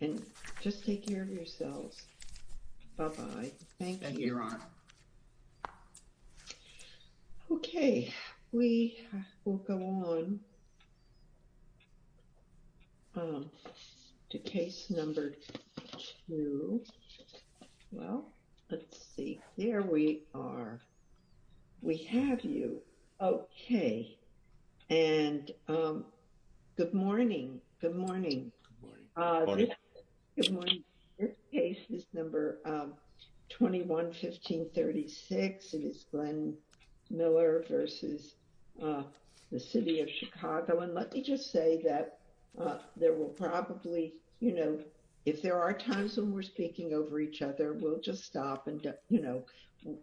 and just take care of yourselves. Bye-bye. Thank you. Thank you, Your Honor. Okay, we will go on to case number two. Well, let's see. There we are. We have you. Okay, and good morning. Good morning. Good morning. Your case is number 21-1536. It is Glenn Miller v. the City of Chicago. And let me just say that there will probably, you know, if there are times when we're speaking over each other, we'll just stop and, you know,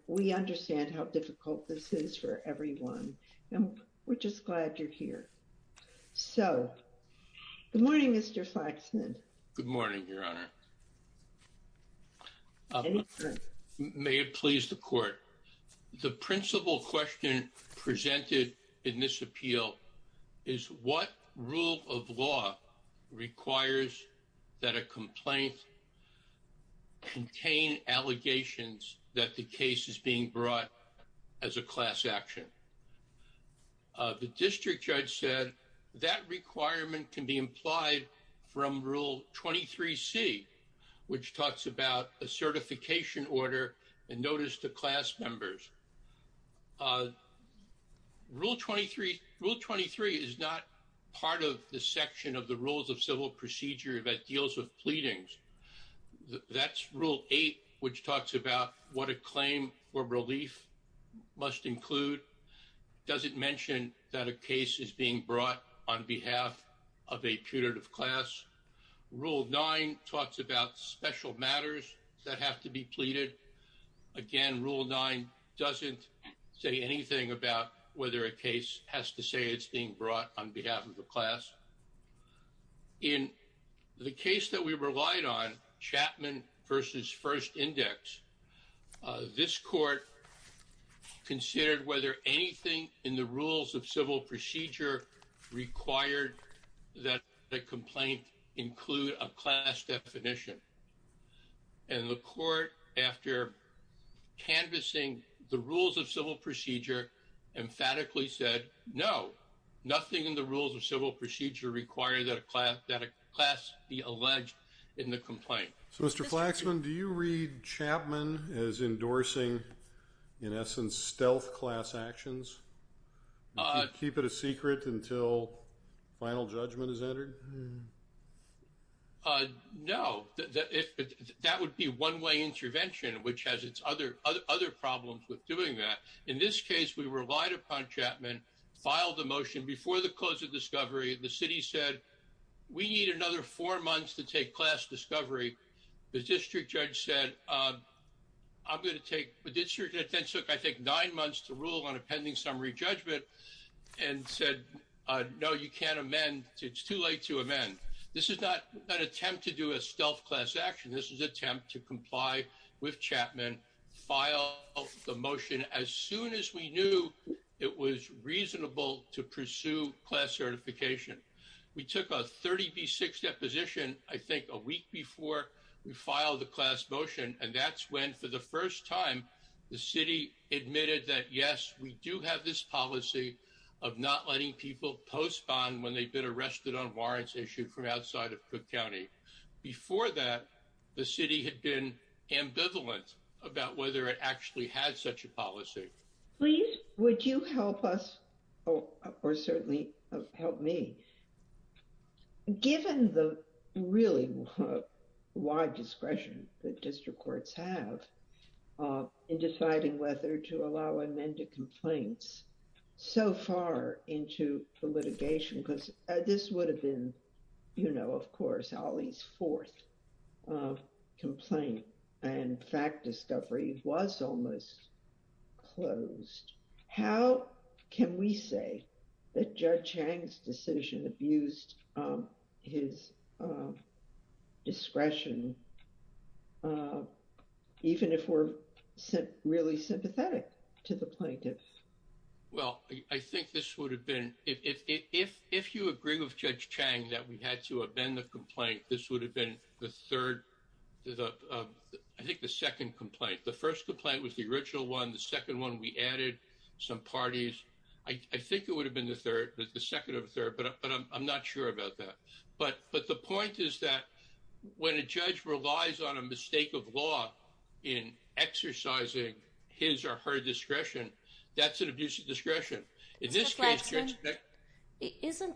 we understand how difficult this is for everyone. And we're just glad you're here. So, good morning, Mr. Faxman. Good morning, Your Honor. May it please the Court. The principal question presented in this appeal is what rule of law requires that a complaint contain allegations that the case is brought as a class action. The district judge said that requirement can be implied from Rule 23C, which talks about a certification order and notice to class members. Rule 23 is not part of the section of the Rules of Civil Procedure that deals with pleadings. That's Rule 8, which talks about what a claim for relief must include. Does it mention that a case is being brought on behalf of a putative class? Rule 9 talks about special matters that have to be pleaded. Again, Rule 9 doesn't say anything about whether a case has to say it's being brought on behalf of the class. In the case that we relied on, Chapman v. First Index, this Court considered whether anything in the Rules of Civil Procedure required that the complaint include a class definition. And the Court, after canvassing the Rules of Civil Procedure, emphatically said, no, nothing in the Rules of Civil Procedure require that a class be alleged in the complaint. So, Mr. Flaxman, do you read Chapman as endorsing, in essence, stealth class actions? Keep it a secret until final judgment is entered? No. That would be one-way intervention, which has its other problems with doing that. In this case, we relied upon Chapman, filed the motion before the close of discovery. The city said, we need another four months to take class discovery. The district judge said, I'm going to take—the district judge then took, I think, nine months to rule on a pending summary judgment, and said, no, you can't amend. It's too late to amend. This is not an attempt to do a stealth class action. This is an attempt to comply with Chapman, file the motion as soon as we knew it was reasonable to pursue class certification. We took a 30B6 deposition, I think, a week before we filed the class motion, and that's when, for the first time, the city admitted that, yes, we do have this policy of not letting people postpone when they've been arrested on warrants issued from outside of Cook County. Before that, the city had been ambivalent about whether it actually had such a policy. Would you help us, or certainly help me, given the really wide discretion that district courts have, in deciding whether to allow amended complaints so far into the litigation? Because this would have been, you know, of course, Ali's fourth complaint, and fact discovery was almost closed. How can we say that Judge Chang's decision abused his discretion, even if we're really sympathetic to the plaintiff? Well, I think this would have been, if you agree with Judge Chang that we had to amend the complaint, this would have been the third, I think the second complaint. The first complaint was the original one, the second one we added some parties. I think it would have been the third, the second or third, but I'm not sure about that. But the point is that when a judge relies on a mistake of law in exercising his or her discretion, that's an abuse of discretion. Isn't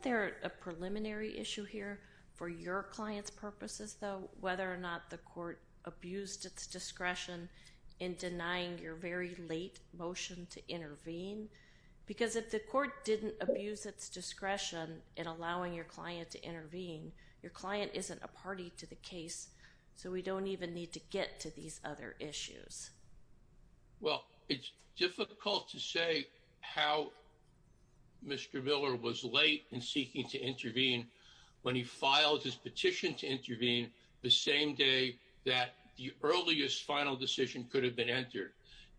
there a preliminary issue here for your client's purposes, though, whether or not the court abused its discretion in denying your very late motion to intervene? Because if the court didn't abuse its discretion in allowing your client to intervene, your client isn't a party to the case, so we don't even need to get to these other issues. Well, it's difficult to say how Mr. Miller was late in seeking to intervene when he filed his petition to intervene the same day that the earliest final decision could have been entered.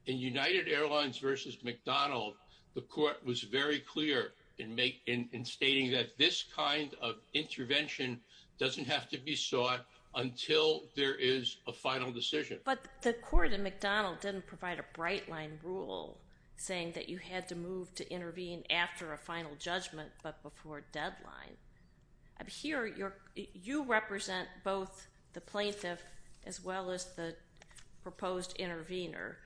In United Airlines versus McDonald, the court was very clear in stating that this kind of intervention doesn't have to be sought until there is a final decision. But the court in McDonald didn't provide a bright line rule saying that you had to move to intervene after a final judgment but before deadline. Here, you represent both the plaintiff as well as the proposed intervener.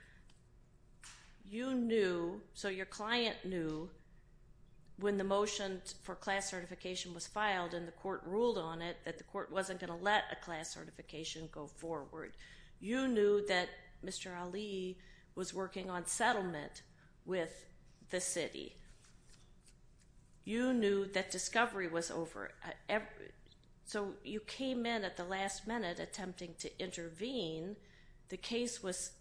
You knew, so your client knew, when the motion for class certification was filed and the court ruled on it, that the court wasn't going to let a class certification go forward. You knew that Mr. Ali was working on settlement with the city. You knew that discovery was over. So you came in at the last minute attempting to intervene. The case was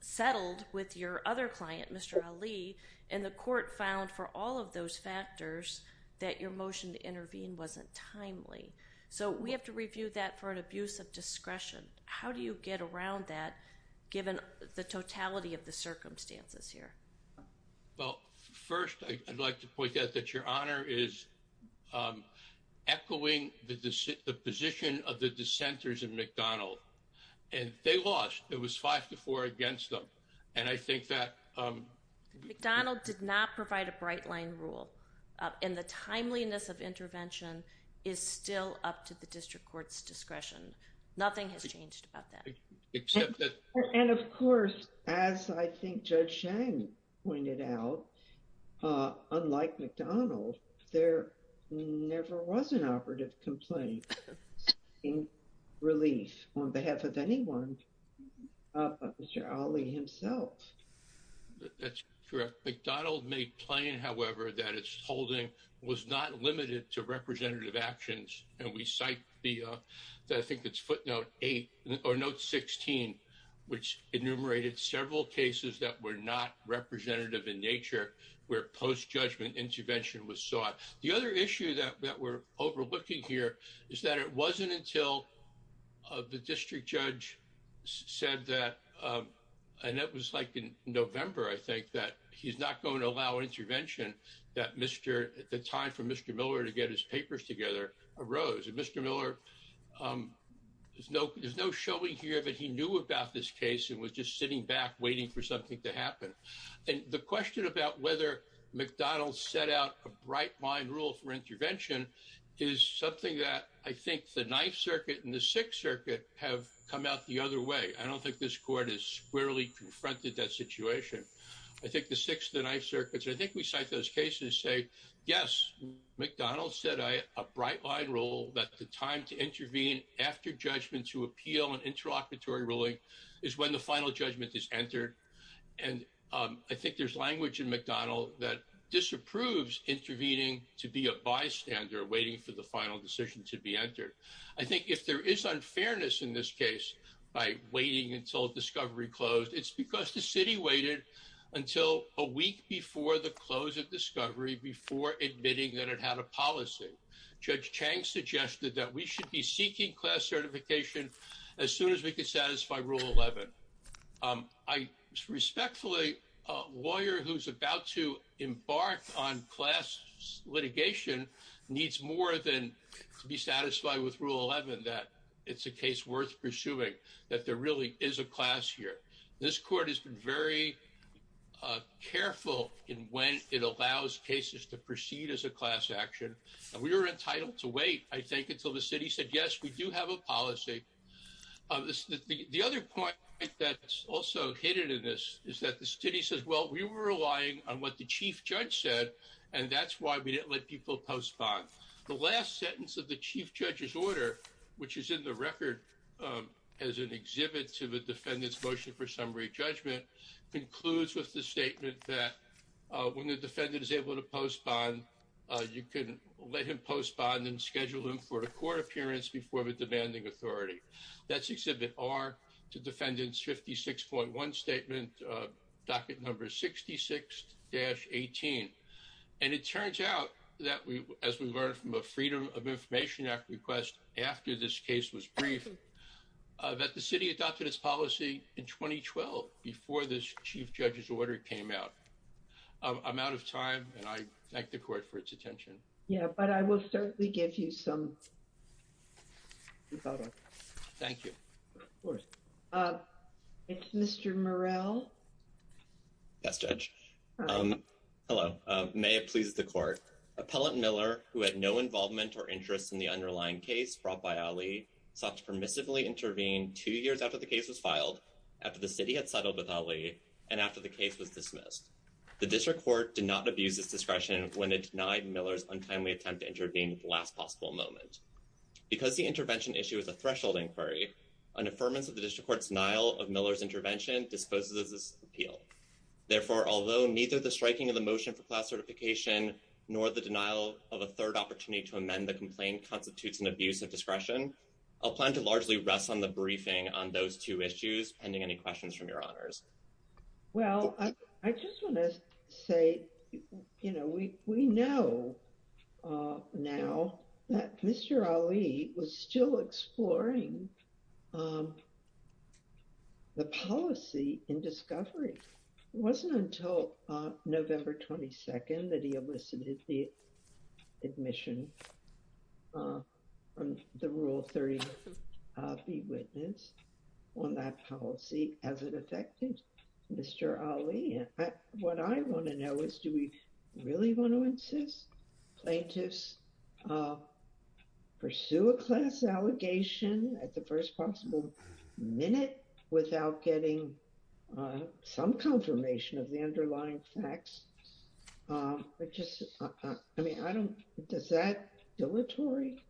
settled with your other client, Mr. Ali, and the court found for all of those factors that your motion to intervene wasn't timely. So we have to review that for an abuse of discretion. How do you get around that given the totality of the circumstances here? Well, first I'd like to point out that your honor is echoing the position of the dissenters in McDonald. And they lost. It was five to four against them. And I think that- McDonald did not provide a bright line rule. And the timeliness of intervention is still up to the district court's discretion. Nothing has changed about that. And of course, as I think Judge Chang pointed out, unlike McDonald, there never was an operative complaint seeking relief on behalf of anyone but Mr. Ali himself. That's correct. McDonald made plain, however, that its holding was not limited to representative actions. And we cite the- I which enumerated several cases that were not representative in nature, where post-judgment intervention was sought. The other issue that we're overlooking here is that it wasn't until the district judge said that- and that was like in November, I think, that he's not going to allow intervention, that Mr- the time for Mr. Miller to get his papers together arose. And Mr. Miller, there's no showing here that he knew about this case and was just sitting back waiting for something to happen. And the question about whether McDonald set out a bright line rule for intervention is something that I think the Ninth Circuit and the Sixth Circuit have come out the other way. I don't think this court has squarely confronted that situation. I think the Sixth and the Ninth Circuits, I think we cite those cases say, yes, McDonald set a bright line rule that the time to intervene after judgment to appeal an interlocutory ruling is when the final judgment is entered. And I think there's language in McDonald that disapproves intervening to be a bystander waiting for the final decision to be entered. I think if there is unfairness in this case by waiting until discovery closed, it's because the city waited until a week before the close of discovery before admitting that it had a policy. Judge Chang suggested that we should be seeking class certification as soon as we could satisfy Rule 11. I respectfully, a lawyer who's about to embark on class litigation needs more than to be satisfied with Rule 11 that it's a case worth pursuing, that there really is a class here. This court has been very careful in when it allows cases to proceed as a class action. We were entitled to wait, I think, until the city said, yes, we do have a policy. The other point that's also hidden in this is that the city says, well, we were relying on what the chief judge said, and that's why we didn't let people postpone. The last sentence of the summary judgment concludes with the statement that when the defendant is able to postpone, you can let him postpone and schedule him for a court appearance before the demanding authority. That's exhibit R to defendant's 56.1 statement, docket number 66-18. And it turns out that we, as we learned from a Freedom of Information Act request after this case was briefed, that the city adopted its policy in 2012 before this chief judge's order came out. I'm out of time, and I thank the court for its attention. Yeah, but I will certainly give you some. Thank you. Of course. It's Mr. Morrell. Yes, Judge. Hello. May it please the court. Appellant Miller, who had no involvement or interest in the underlying case brought by Ali, sought to permissively intervene two years after the case was filed, after the city had settled with Ali, and after the case was dismissed. The district court did not abuse its discretion when it denied Miller's untimely attempt to intervene at the last possible moment. Because the intervention issue is a threshold inquiry, an affirmance of the district court's denial of Miller's intervention disposes of this appeal. Therefore, although neither the striking of the motion for class certification nor the denial of a third opportunity to amend the complaint constitutes an abuse of discretion, I'll plan to largely rest on the briefing on those two issues pending any questions from your honors. Well, I just want to say, you know, we know now that Mr. Ali was still exploring the policy in discovery. It wasn't until November 22nd that he elicited the admission from the Rule 30 be witness on that policy as it affected Mr. Ali. What I want to know is, do we really want to insist plaintiffs pursue a class allegation at the first possible minute without getting some confirmation of the underlying facts? I mean, I don't, is that dilatory?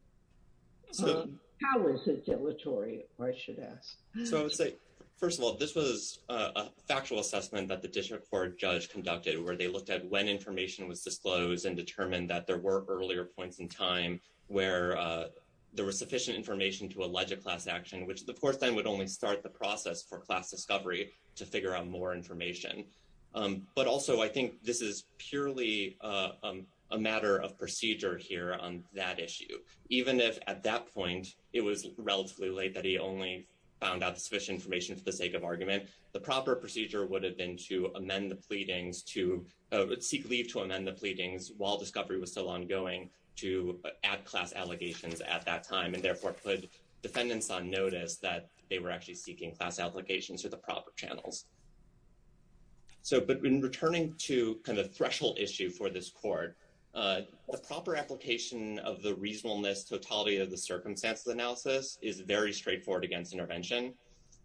How is it dilatory, I should ask? So I would say, first of all, this was a factual assessment that the district court judge conducted where they looked at when information was disclosed and determined that there were earlier points in time where there was sufficient information to allege a class action, which the court then would only start the process for class discovery to figure out more information. But also, I think this is purely a matter of procedure here on that issue. Even if at that point, it was relatively late that he only found out the sufficient information for the sake of argument, the proper procedure would have been to amend the pleadings to seek leave to amend the pleadings while discovery was still ongoing to add class allegations at that time and therefore put defendants on notice that they were actually seeking class allegations through the proper channels. So, but in returning to kind of threshold issue for this court, the proper application of the reasonableness totality of the circumstances analysis is very straightforward against intervention.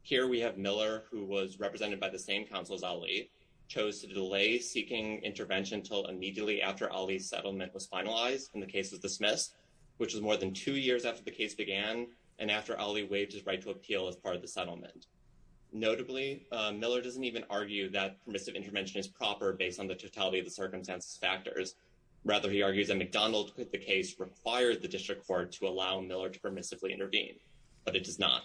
Here we have Miller, who was represented by the same counsel as Ali, chose to delay seeking intervention until immediately after Ali's settlement was finalized and the case was dismissed, which was more than two years after the case began. And after Ali waived his right to appeal as part of the settlement. Notably, Miller doesn't even argue that permissive intervention is proper based on the totality of the circumstances factors. Rather, he argues that McDonald put the case required the district court to allow Miller to permissively intervene, but it does not.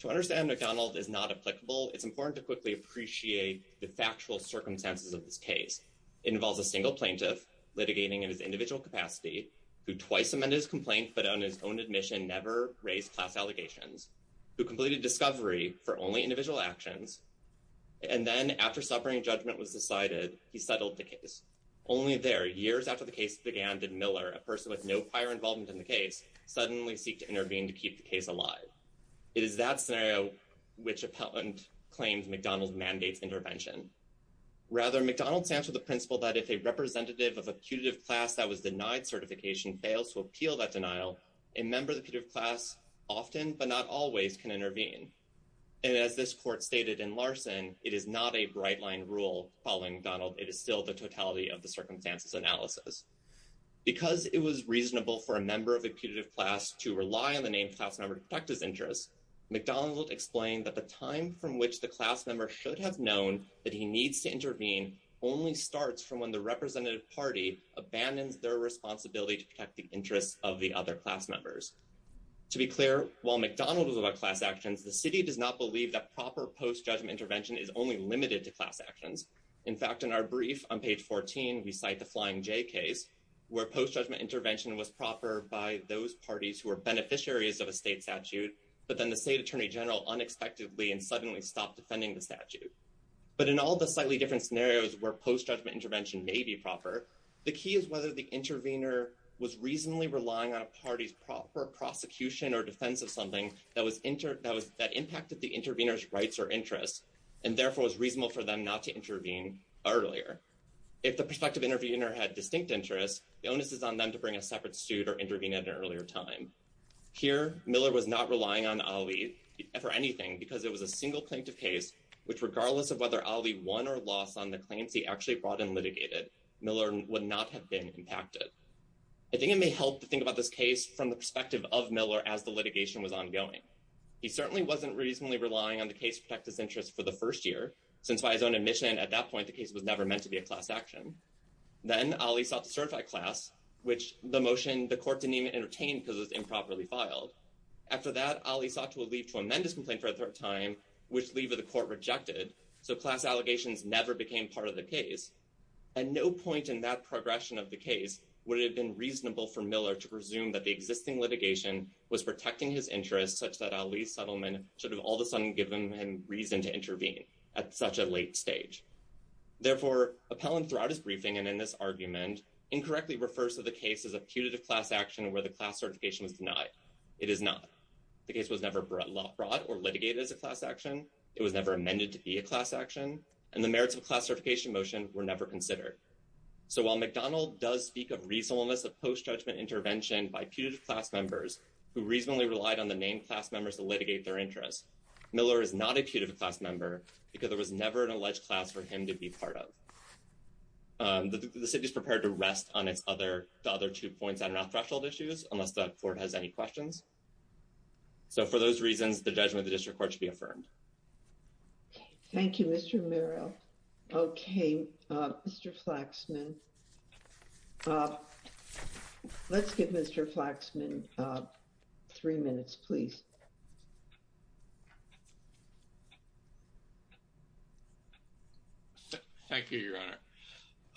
To understand McDonald is not applicable, it's important to quickly appreciate the factual circumstances of this case. It involves a single plaintiff litigating in his individual capacity, who twice amended his admission, never raised class allegations, who completed discovery for only individual actions. And then after suffering judgment was decided, he settled the case. Only there, years after the case began, did Miller, a person with no prior involvement in the case, suddenly seek to intervene to keep the case alive. It is that scenario which appellant claims McDonald mandates intervention. Rather, McDonald stands to the principle that if a representative of a putative class that was putative class often but not always can intervene. And as this court stated in Larson, it is not a bright line rule following Donald, it is still the totality of the circumstances analysis. Because it was reasonable for a member of the putative class to rely on the name class number to protect his interests. McDonald explained that the time from which the class member should have known that he needs to intervene only starts from when the representative party abandons their interests of the other class members. To be clear, while McDonald was about class actions, the city does not believe that proper post-judgment intervention is only limited to class actions. In fact, in our brief on page 14, we cite the Flying J case, where post-judgment intervention was proper by those parties who are beneficiaries of a state statute, but then the state attorney general unexpectedly and suddenly stopped defending the statute. But in all the slightly different scenarios where post-judgment intervention may be proper, the key is whether the intervener was reasonably relying on a party's proper prosecution or defense of something that impacted the intervener's rights or interests, and therefore was reasonable for them not to intervene earlier. If the prospective intervener had distinct interests, the onus is on them to bring a separate suit or intervene at an earlier time. Here, Miller was not relying on Ali for anything because it was a single plaintiff case, which regardless of whether Ali won or lost on the claims he actually brought and litigated, Miller would not have been impacted. I think it may help to think about this case from the perspective of Miller as the litigation was ongoing. He certainly wasn't reasonably relying on the case to protect his interests for the first year, since by his own admission at that point, the case was never meant to be a class action. Then Ali sought to certify class, which the motion the court didn't even entertain because it was improperly filed. After that, Ali sought to leave to amend his complaint for a third time, which leave of the court rejected, so class allegations never became part of the case. At no point in that progression of the case would it have been reasonable for Miller to presume that the existing litigation was protecting his interests such that Ali's settlement should have all of a sudden given him reason to intervene at such a late stage. Therefore, appellant throughout his briefing and in this argument incorrectly refers to the case as a putative class action where the class certification was denied. It is not. The case was never brought or litigated as a class action. It was never amended to be a class action, and the merits of class certification motion were never considered. So while McDonald does speak of reasonableness of post-judgment intervention by putative class members who reasonably relied on the main class members to litigate their interests, Miller is not a putative class member because there was never an alleged class for him to be part of. The city is prepared to rest on the other two points that are not threshold issues unless the court has any questions. So for those reasons, the judgment of the district court should be affirmed. Thank you, Mr. Merrill. Okay, Mr. Flaxman. Let's give Mr. Flaxman three minutes, please. Thank you, Your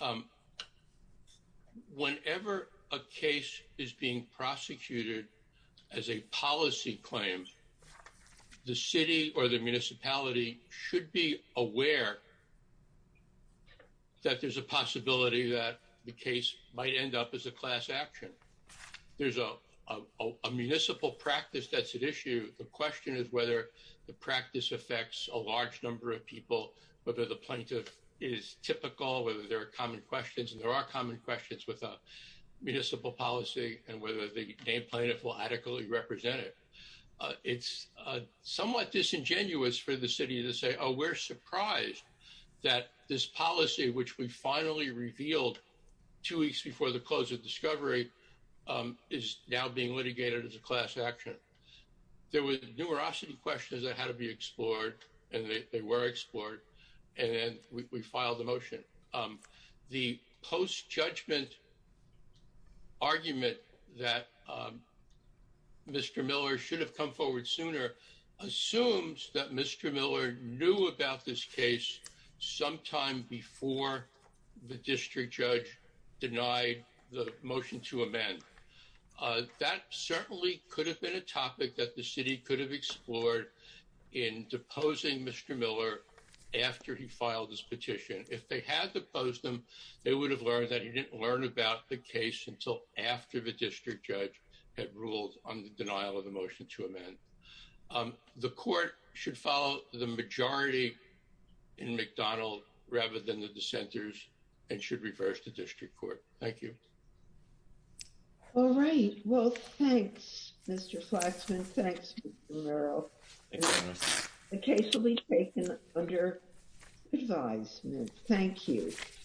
Honor. Whenever a case is being prosecuted as a policy claim, the city or the municipality should be aware that there's a possibility that the case might end up as a class action. There's a municipal practice that's at issue. The question is whether the practice affects a large number of people, whether the plaintiff is typical, whether there are common questions, and there are common questions with a municipal policy, and whether the named plaintiff will adequately represent it. It's somewhat disingenuous for the city to say, oh, we're going to have a class action case, and the case that was finally revealed two weeks before the close of discovery is now being litigated as a class action. There were numerosity questions that had to be explored, and they were explored, and then we filed the motion. The post-judgment argument that Mr. Miller should have come forward sooner assumes that Mr. Miller knew about this case sometime before the district judge denied the motion to amend. That certainly could have been a topic that the city could have explored in deposing Mr. Miller after he filed this petition. If they had deposed him, they would have learned that he didn't learn about the case until after the district judge had ruled on the denial of the motion to amend. The court should follow the majority in McDonald rather than the dissenters and should reverse the district court. Thank you. All right. Well, thanks, Mr. Flaxman. Thanks, Mr. Murrow. The case will be taken under advisement. Thank you.